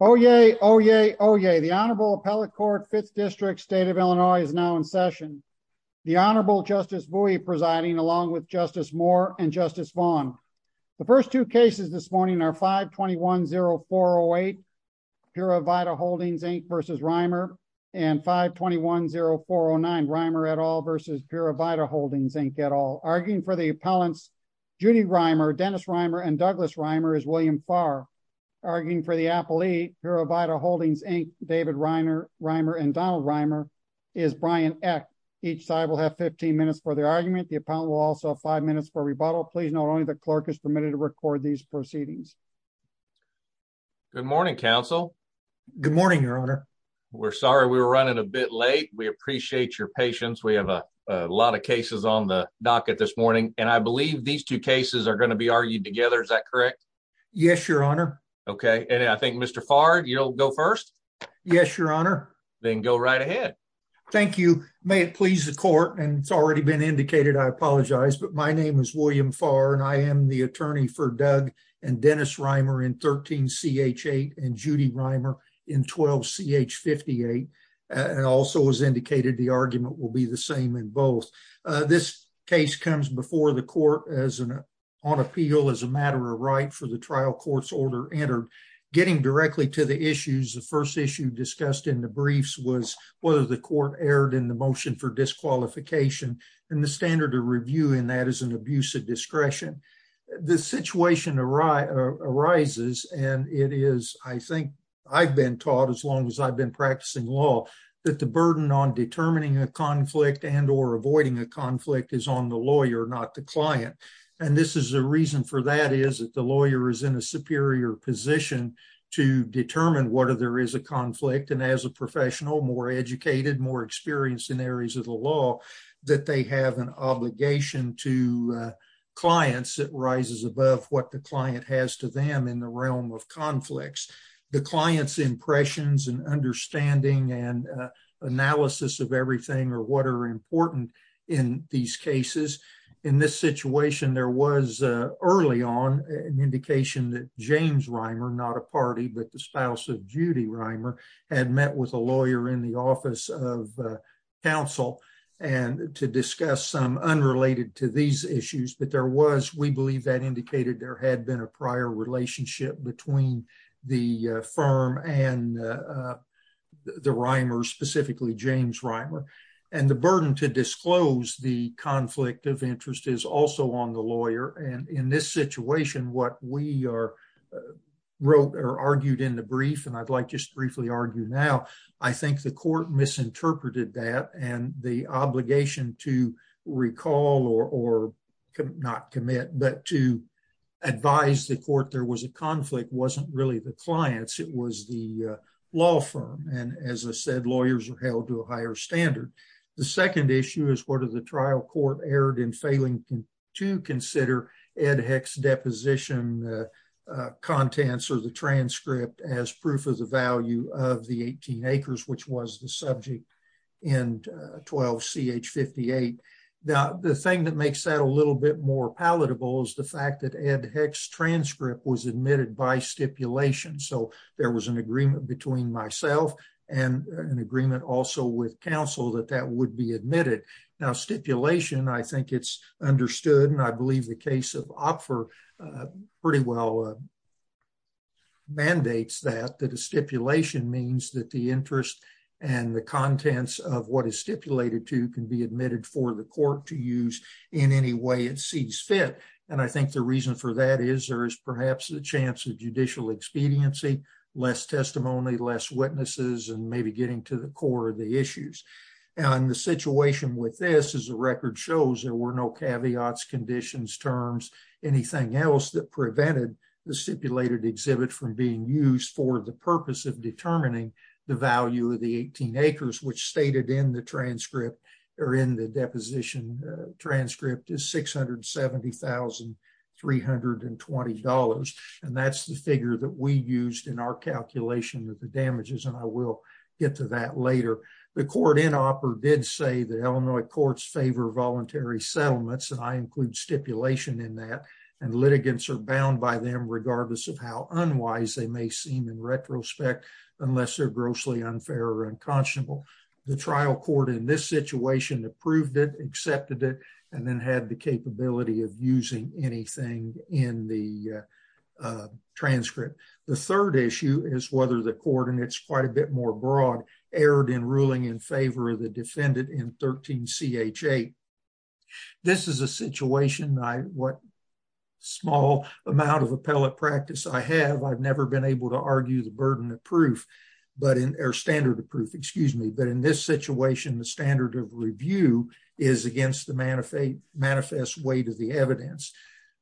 Oyez, oyez, oyez. The Honorable Appellate Court, 5th District, State of Illinois is now in session. The Honorable Justice Bouie presiding along with Justice Moore and Justice Vaughn. The first two cases this morning are 521-0408 Pura Vida Holdings, Inc. v. Reimer and 521-0409 Reimer et al. v. Pura Vida Holdings, Inc. et al. Arguing for the appellants, Judy Reimer, Dennis Reimer, and Douglas Reimer is William Farr. Arguing for the appellate, Pura Vida Holdings, Inc., David Reimer, and Donald Reimer is Brian Eck. Each side will have 15 minutes for their argument. The appellant will also have five minutes for rebuttal. Please note only the clerk is permitted to record these proceedings. Good morning, counsel. Good morning, Your Honor. We're sorry we were running a bit late. We appreciate your patience. We have a lot of cases on the docket this morning, and I believe these two cases are going to be argued together. Is that correct? Yes, Your Honor. Okay, and I think, Mr. Farr, you'll go first? Yes, Your Honor. Then go right ahead. Thank you. May it please the court, and it's already been indicated I apologize, but my name is William Farr, and I am the attorney for Doug and Dennis Reimer in 13-CH8 and Judy Reimer in 12-CH58, and also, as indicated, the argument will be the same in both. This case comes before the court on appeal as a matter of right for the trial court's order entered. Getting directly to the issues, the first issue discussed in the briefs was whether the court erred in the motion for disqualification, and the standard of review in that is an abuse of discretion. The situation arises, and it is, I think, I've been taught as long as I've been practicing law that the burden on determining a conflict and or avoiding a conflict is on the lawyer, not the client, and this is the reason for that is that the lawyer is in a superior position to determine whether there is a conflict, and as a professional, more educated, more experienced in areas of the law, that they have an obligation to clients that rises above what the client has to them in the realm of conflicts. The client's impressions and understanding and analysis of everything or what are important in these cases. In this situation, there was early on an indication that James Reimer, not a party, but the spouse of Judy Reimer, had met with a lawyer in the office of and to discuss some unrelated to these issues, but there was, we believe that indicated there had been a prior relationship between the firm and the Reimers, specifically James Reimer, and the burden to disclose the conflict of interest is also on the lawyer, and in this situation, what we are wrote or argued in the brief, and I'd like just briefly argue now, I think the court misinterpreted that, and the obligation to recall or not commit, but to advise the court there was a conflict wasn't really the client's, it was the law firm, and as I said, lawyers are held to a higher standard. The second issue is what are the trial court erred in failing to consider Ed Heck's deposition contents or the transcript as proof of the value of the 18 acres, which was the subject in 12 CH 58. Now, the thing that makes that a little bit more palatable is the fact that Ed Heck's transcript was admitted by stipulation, so there was an agreement between myself and an agreement also with counsel that that would be admitted. Now, stipulation, I think it's understood, and I believe the case of Opfer pretty well mandates that, that a stipulation means that the interest and the contents of what is stipulated to can be admitted for the court to use in any way it sees fit, and I think the reason for that is there is perhaps the chance of judicial expediency, less testimony, less witnesses, and maybe getting to the core of the issues, and the situation with this is the record shows there were no caveats, conditions, terms, anything else that prevented the stipulated exhibit from being used for the purpose of determining the value of the 18 acres, which stated in the transcript or in the deposition transcript is $670,320, and that's the figure that we used in our calculation of the damages, and I will get to that later. The court in Opfer did say that Illinois courts favor voluntary settlements, and I include stipulation in that, and litigants are bound by them regardless of how unwise they may seem in retrospect unless they're grossly unfair or unconscionable. The trial court in this situation approved it, accepted it, and then had the capability of using anything in the transcript. The third issue is whether the court, and it's quite a bit more broad, erred in ruling in favor of the defendant in 13 CH8. This is a situation I, what small amount of appellate practice I have, I've never been able to argue the burden of proof, but in, or standard of proof, excuse me, but in this situation, the standard of review is against the manifest weight of the evidence.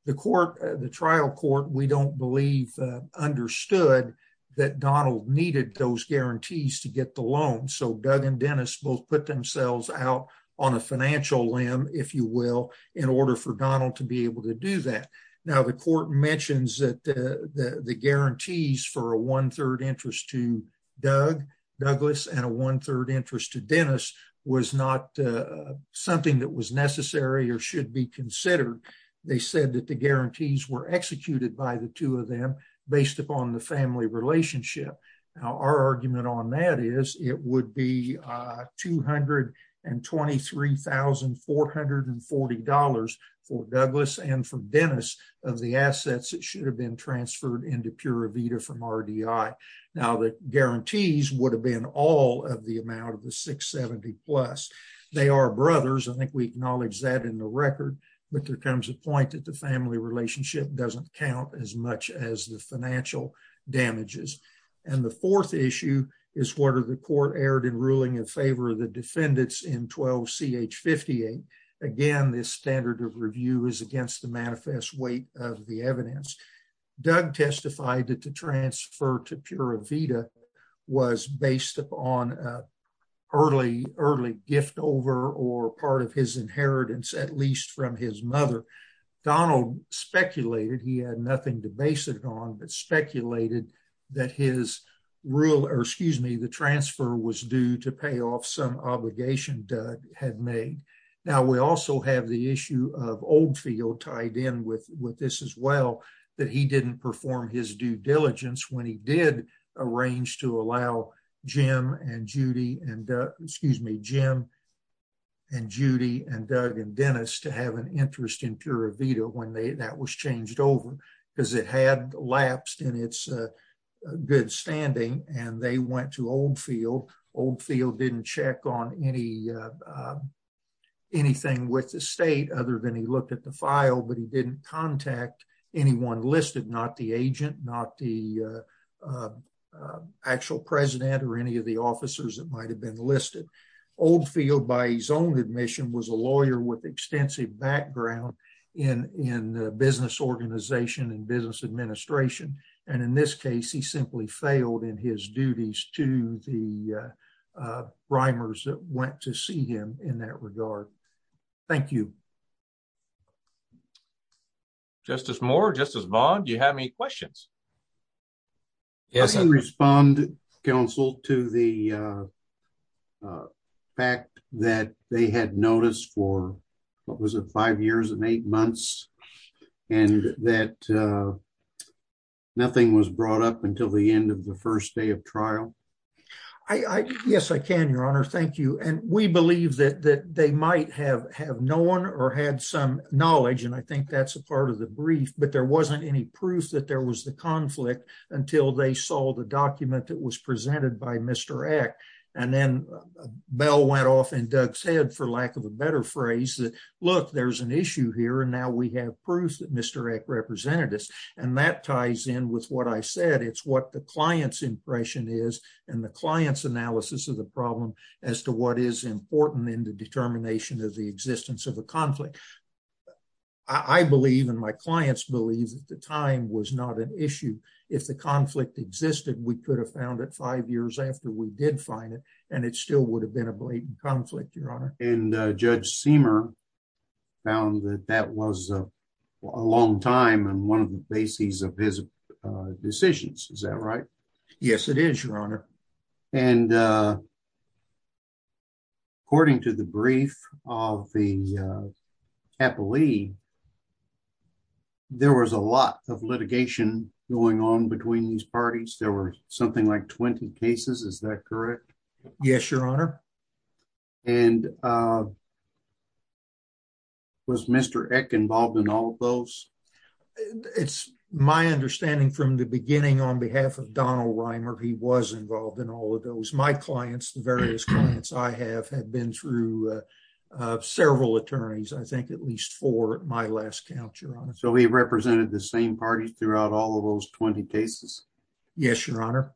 The court, the trial court, we don't believe understood that Donald needed those guarantees to get the loan, so Doug and Dennis both put themselves out on a financial limb, if you will, in order for Donald to be able to do that. Now, the court mentions that the guarantees for a one-third interest to Doug, Douglas, and a one-third interest to Dennis was not something that was necessary or should be considered. They said that the guarantees were executed by the two of them based upon the family relationship. Now, our argument on that is it would be $223,440 for Douglas and for Dennis of the assets that should have been transferred into Pura Vida from RDI. Now, the guarantees would have been all of the amount of the $670 plus. They are brothers. I think we acknowledge that in the record, but there comes a point that the family relationship doesn't count as much as the financial damages. And the fourth issue is whether the court erred in ruling in favor of the defendants in 12-CH-58. Again, this standard of review is against the manifest weight of the based upon early gift over or part of his inheritance, at least from his mother. Donald speculated, he had nothing to base it on, but speculated that his rule, or excuse me, the transfer was due to pay off some obligation Doug had made. Now, we also have the issue of Oldfield tied in with this as well, that he didn't perform his due diligence when he did arrange to allow Jim and Judy and excuse me, Jim and Judy and Doug and Dennis to have an interest in Pura Vida when that was changed over because it had lapsed in its good standing and they went to Oldfield. Oldfield didn't check on anything with the state other than he looked at the file, but he didn't contact anyone listed, not the agent, not the actual president or any of the officers that might have been listed. Oldfield, by his own admission, was a lawyer with extensive background in the business organization and business administration. And in this case, he simply failed in his duties to the primers that went to see him in that regard. Thank you. Justice Moore, Justice Vaughn, do you have any questions? Yes, I respond, counsel, to the fact that they had noticed for what was it, five years and eight months, and that nothing was brought up until the end of the first day of trial. Yes, I can, your honor. Thank you. And we believe that they might have have known or had some knowledge, and I think that's a part of the brief, but there wasn't any proof that there was the conflict until they saw the document that was presented by Mr. Eck. And then a bell went off in Doug's head, for lack of a better phrase, that look, there's an issue here and now we have proof that Mr. Eck represented us. And that ties in with what I said. It's what the client's impression is and the client's analysis of the problem as to what is important in the determination of the I believe, and my clients believe, that the time was not an issue. If the conflict existed, we could have found it five years after we did find it, and it still would have been a blatant conflict, your honor. And Judge Seamer found that that was a long time and one of the bases of his decisions. Is that right? Yes, it is, your honor. And according to the brief of the Capoli, there was a lot of litigation going on between these parties. There were something like 20 cases, is that correct? Yes, your honor. And was Mr. Eck involved in all of those? It's my understanding from the beginning on behalf of the various clients I have, had been through several attorneys, I think at least four at my last count, your honor. So he represented the same parties throughout all of those 20 cases? Yes, your honor.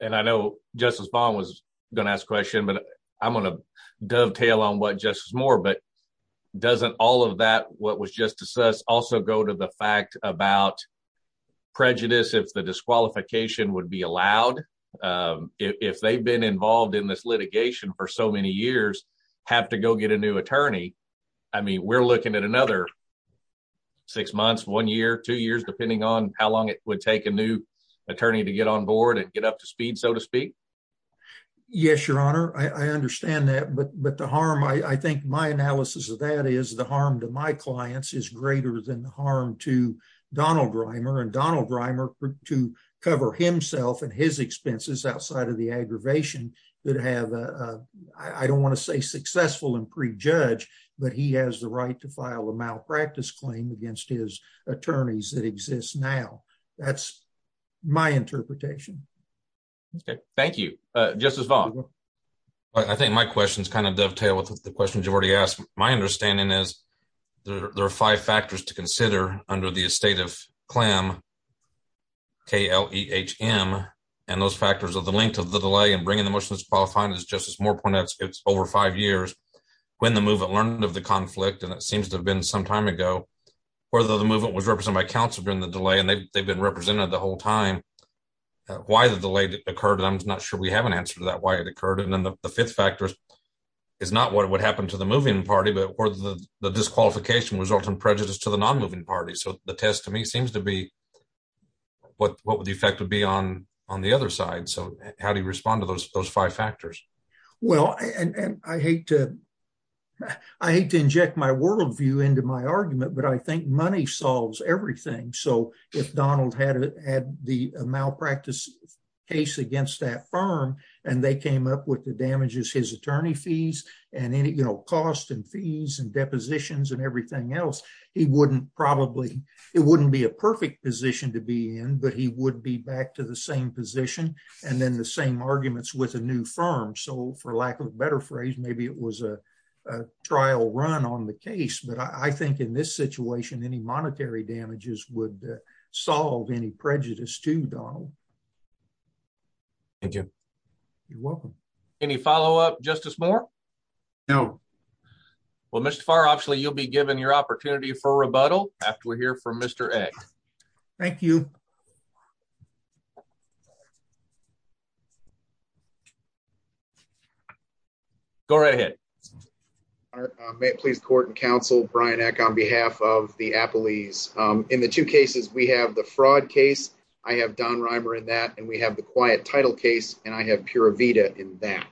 And I know Justice Bond was going to ask a question, but I'm going to dovetail on what Justice Moore, but doesn't all of that, what was just assessed, also go to the fact about prejudice, if the disqualification would be allowed. If they've been involved in this litigation for so many years, have to go get a new attorney. I mean, we're looking at another six months, one year, two years, depending on how long it would take a new attorney to get on board and get up to speed, so to speak. Yes, your honor. I understand that. But the harm, I think my analysis of that is the harm to my and Donald Reimer to cover himself and his expenses outside of the aggravation that have, I don't want to say successful and prejudge, but he has the right to file a malpractice claim against his attorneys that exist now. That's my interpretation. Thank you. Justice Bond. I think my questions kind of dovetail with the questions you've already asked. My understanding is there are five factors to consider under the estate of KLEHM, K-L-E-H-M, and those factors are the length of the delay and bringing the motion that's qualifying, as Justice Moore pointed out, it's over five years. When the movement learned of the conflict, and it seems to have been some time ago, whether the movement was represented by counsel during the delay, and they've been represented the whole time, why the delay occurred, I'm not sure we have an answer to that, why it occurred. And then the fifth factor is not what would happen to the moving party, but where the disqualification result in prejudice to the non-moving party. So the test to me seems to be what would the effect would be on the other side. So how do you respond to those five factors? Well, and I hate to inject my worldview into my argument, but I think money solves everything. So if Donald had the malpractice case against that firm, and they came up with the damages, his attorney fees, and any, you know, cost and fees and depositions and everything else, he wouldn't probably, it wouldn't be a perfect position to be in, but he would be back to the same position. And then the same arguments with a new firm. So for lack of a better phrase, maybe it was a trial run on the case. But I think in this situation, any monetary damages would solve any prejudice too Donald. Thank you. You're welcome. Any follow up Justice Moore? No. Well, Mr. Farr, obviously you'll be given your opportunity for rebuttal after we hear from Mr. Eck. Thank you. Go right ahead. May it please court and counsel Brian Eck on behalf of the Apple ease. In the two cases, we have the fraud case. I have Don Reimer in that and we have the quiet title case and I have pure Vita in that.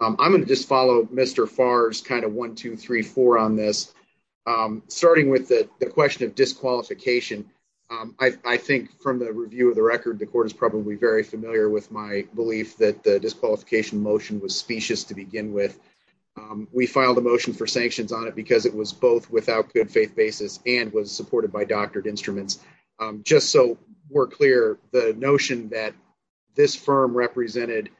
I'm going to just follow Mr. Farr's kind of 1234 on this. Starting with the question of disqualification, I think from the review of the record, the court is probably very familiar with my belief that the disqualification motion was specious to begin with. We filed a motion for sanctions on it because it was both without good faith basis and was supported by doctored instruments. Just so we're clear, the notion that this firm represented,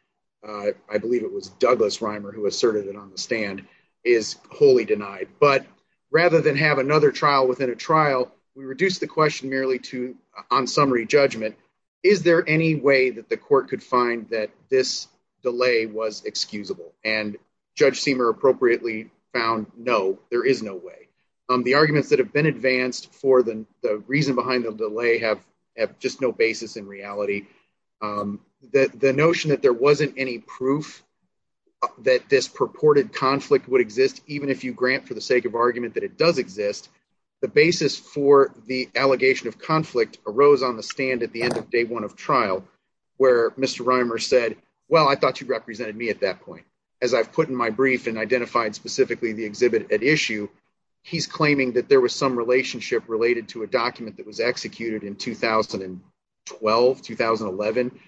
I believe it was Douglas Reimer who asserted it on the stand, is wholly denied. But rather than have another trial within a trial, we reduced the question merely to on summary judgment, is there any way that the court could find that this delay was excusable? And Judge Seamer appropriately found no, there is no way. The arguments that have been advanced for the reason behind the delay have just no basis in reality. The notion that there wasn't any proof that this purported conflict would exist, even if you grant for the sake of argument that it does exist, the basis for the allegation of conflict arose on the stand at the end of day one of trial, where Mr. Reimer said, well, I thought you represented me at that point. As I've put in my brief and identified specifically the exhibit at issue, he's claiming that there was some relationship related to a document that was executed in 2012, 2011.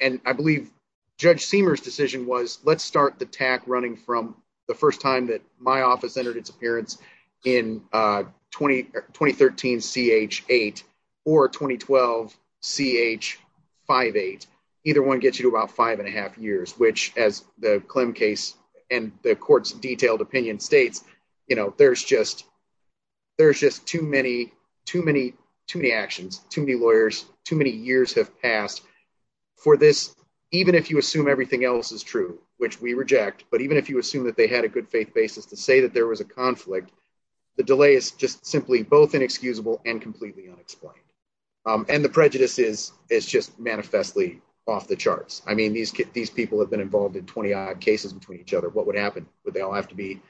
And I believe Judge Seamer's decision was, let's start the tack running from the first time that my office entered its appearance in 2013 CH8 or 2012 CH58. Either one gets you to about five and a half years, which as the Clem case and the court's detailed opinion states, you know, there's just too many actions, too many lawyers, too many years have passed for this. Even if you assume everything else is true, which we reject, but even if you assume that they had a good faith basis to say that there was a conflict, the delay is just simply both inexcusable and completely unexplained. And the prejudice is just manifestly off the charts. I mean, these people have been involved in 20 odd cases between each other. What would happen? Would they all have to be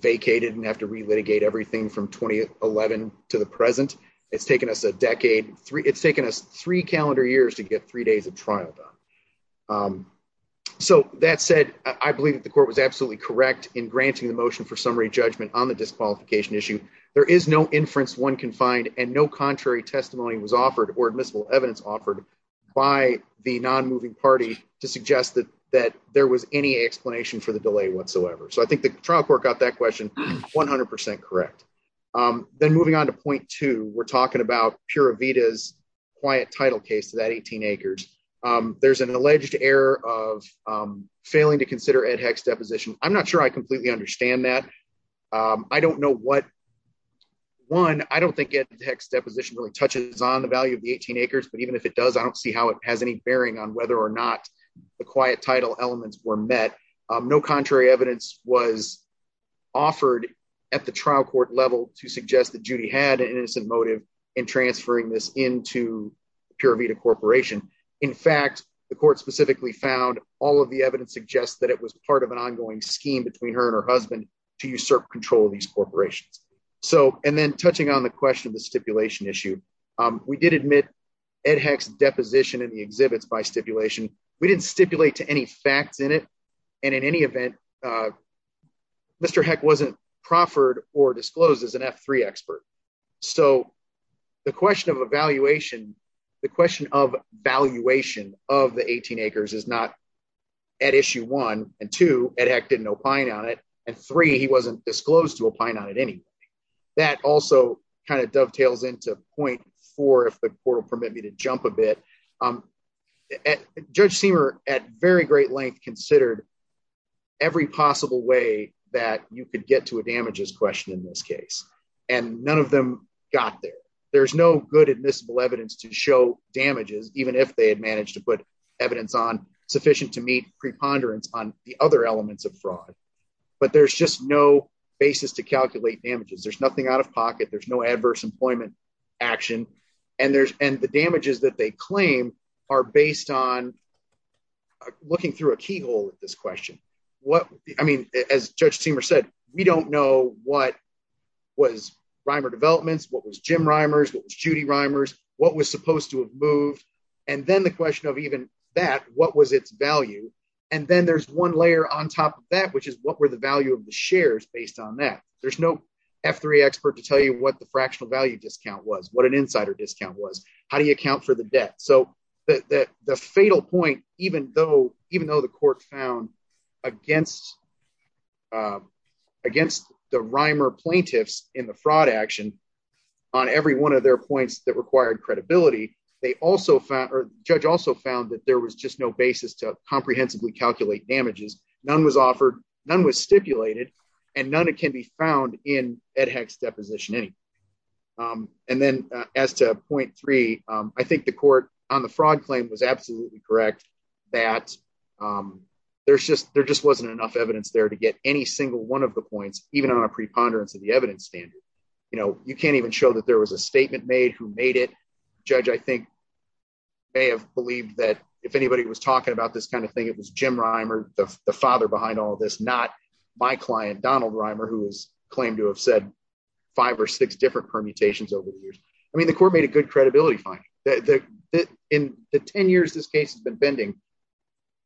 vacated and have to re-litigate everything from 2011 to the present? It's taken us a decade, it's taken us three calendar years to get three days of trial done. So that said, I believe that the court was absolutely correct in granting the motion for summary judgment on the disqualification issue. There is no inference one can find and no contrary testimony was offered or admissible evidence offered by the non-moving party to suggest that there was any explanation for the delay whatsoever. So I think the trial court got that question 100% correct. Then moving on to point two, we're talking about Pura Vida's quiet title case to that 18 acres. There's an alleged error of failing to consider Ed Heck's deposition really touches on the value of the 18 acres, but even if it does, I don't see how it has any bearing on whether or not the quiet title elements were met. No contrary evidence was offered at the trial court level to suggest that Judy had an innocent motive in transferring this into Pura Vida Corporation. In fact, the court specifically found all of the evidence suggests that it was part of an ongoing scheme between her and her husband to usurp control of these acres. We did admit Ed Heck's deposition in the exhibits by stipulation. We didn't stipulate to any facts in it. And in any event, Mr. Heck wasn't proffered or disclosed as an F3 expert. So the question of evaluation, the question of valuation of the 18 acres is not at issue one and two, Ed Heck didn't opine on it. And three, he wasn't disclosed to opine on it anyway. That also kind of dovetails into point four, if the court will permit me to jump a bit. Judge Seamer at very great length considered every possible way that you could get to a damages question in this case, and none of them got there. There's no good admissible evidence to show damages, even if they had managed to put evidence on sufficient to meet preponderance on the other elements of fraud. But there's just no basis to calculate damages. There's nothing out of pocket. There's no adverse employment action. And the damages that they claim are based on looking through a keyhole at this question. I mean, as Judge Seamer said, we don't know what was Reimer Developments, what was Jim Reimers, what was Judy Reimers, what was supposed to have value. And then there's one layer on top of that, which is what were the value of the shares based on that. There's no F3 expert to tell you what the fractional value discount was, what an insider discount was, how do you account for the debt. So the fatal point, even though the court found against the Reimer plaintiffs in the fraud action on every one of their points that required credibility, the judge also found that there was just no basis to comprehensively calculate damages. None was offered, none was stipulated, and none can be found in Ed Heck's deposition. And then as to point three, I think the court on the fraud claim was absolutely correct that there just wasn't enough evidence there to get any single one of the points, even on a preponderance of the evidence standard. You can't even show that there was a statement made who made it. The judge, I think, may have believed that if anybody was talking about this kind of thing, it was Jim Reimer, the father behind all of this, not my client, Donald Reimer, who has claimed to have said five or six different permutations over the years. I mean, the court made a good credibility finding. In the 10 years this case has been pending,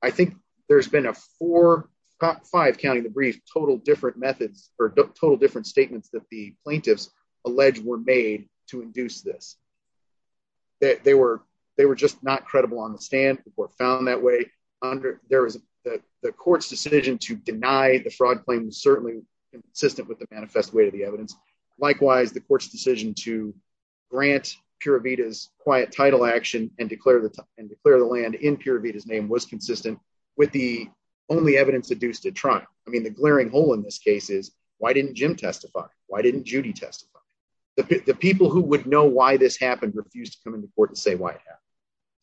I think there's been a four, five, counting the brief, total different methods or total different statements that the this. They were just not credible on the stand. The court found that way. There was the court's decision to deny the fraud claim was certainly consistent with the manifest weight of the evidence. Likewise, the court's decision to grant Pura Vida's quiet title action and declare the land in Pura Vida's name was consistent with the only evidence deduced at trial. I mean, the glaring hole in this case is why didn't Jim testify? Why didn't Judy testify? The people who would know why this happened refused to come into court to say why it happened.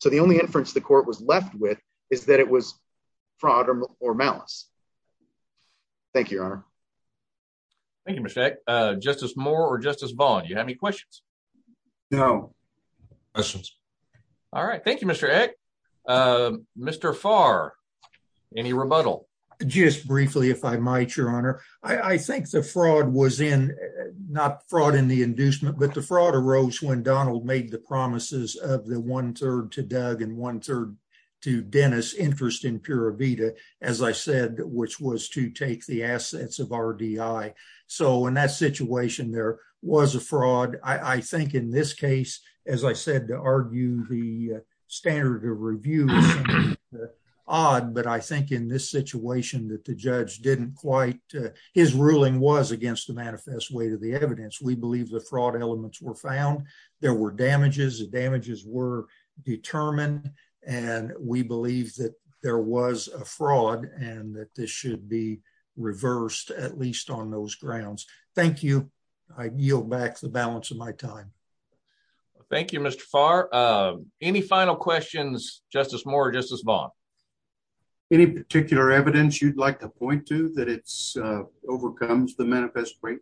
So the only inference the court was left with is that it was fraud or malice. Thank you, Your Honor. Thank you, Mr. Justice Moore or Justice Bond. You have any questions? No questions. All right. Thank you, Mr. Mr. Far. Any rebuttal? Just briefly, if I might, I think the fraud was in not fraud in the inducement, but the fraud arose when Donald made the promises of the one third to Doug and one third to Dennis interest in Pura Vida, as I said, which was to take the assets of RDI. So in that situation, there was a fraud. I think in this case, as I said, to argue the standard of review, odd. But I think in this situation that the judge didn't quite his ruling was against the manifest way to the evidence. We believe the fraud elements were found. There were damages. Damages were determined. And we believe that there was a fraud and that this should be reversed, at least on those grounds. Thank you. I yield back the balance of my time. Thank you, Mr. Far. Any final questions? Justice Moore, Justice Bond. Any particular evidence you'd like to point to that it's overcomes the manifest rate?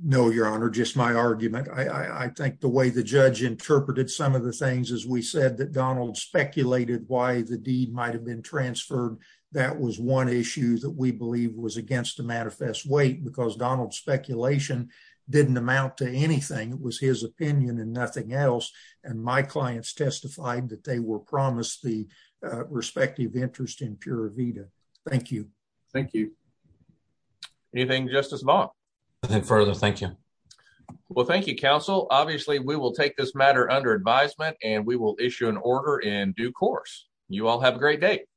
No, your honor, just my argument. I think the way the judge interpreted some of the things as we said that Donald speculated why the deed might have been transferred. That was one issue that we believe was against the manifest weight because Donald's anything. It was his opinion and nothing else. And my clients testified that they were promised the respective interest in Pura Vida. Thank you. Thank you. Anything, Justice Bond? Nothing further. Thank you. Well, thank you, counsel. Obviously, we will take this matter under advisement and we will issue an order in due course. You all have a great day.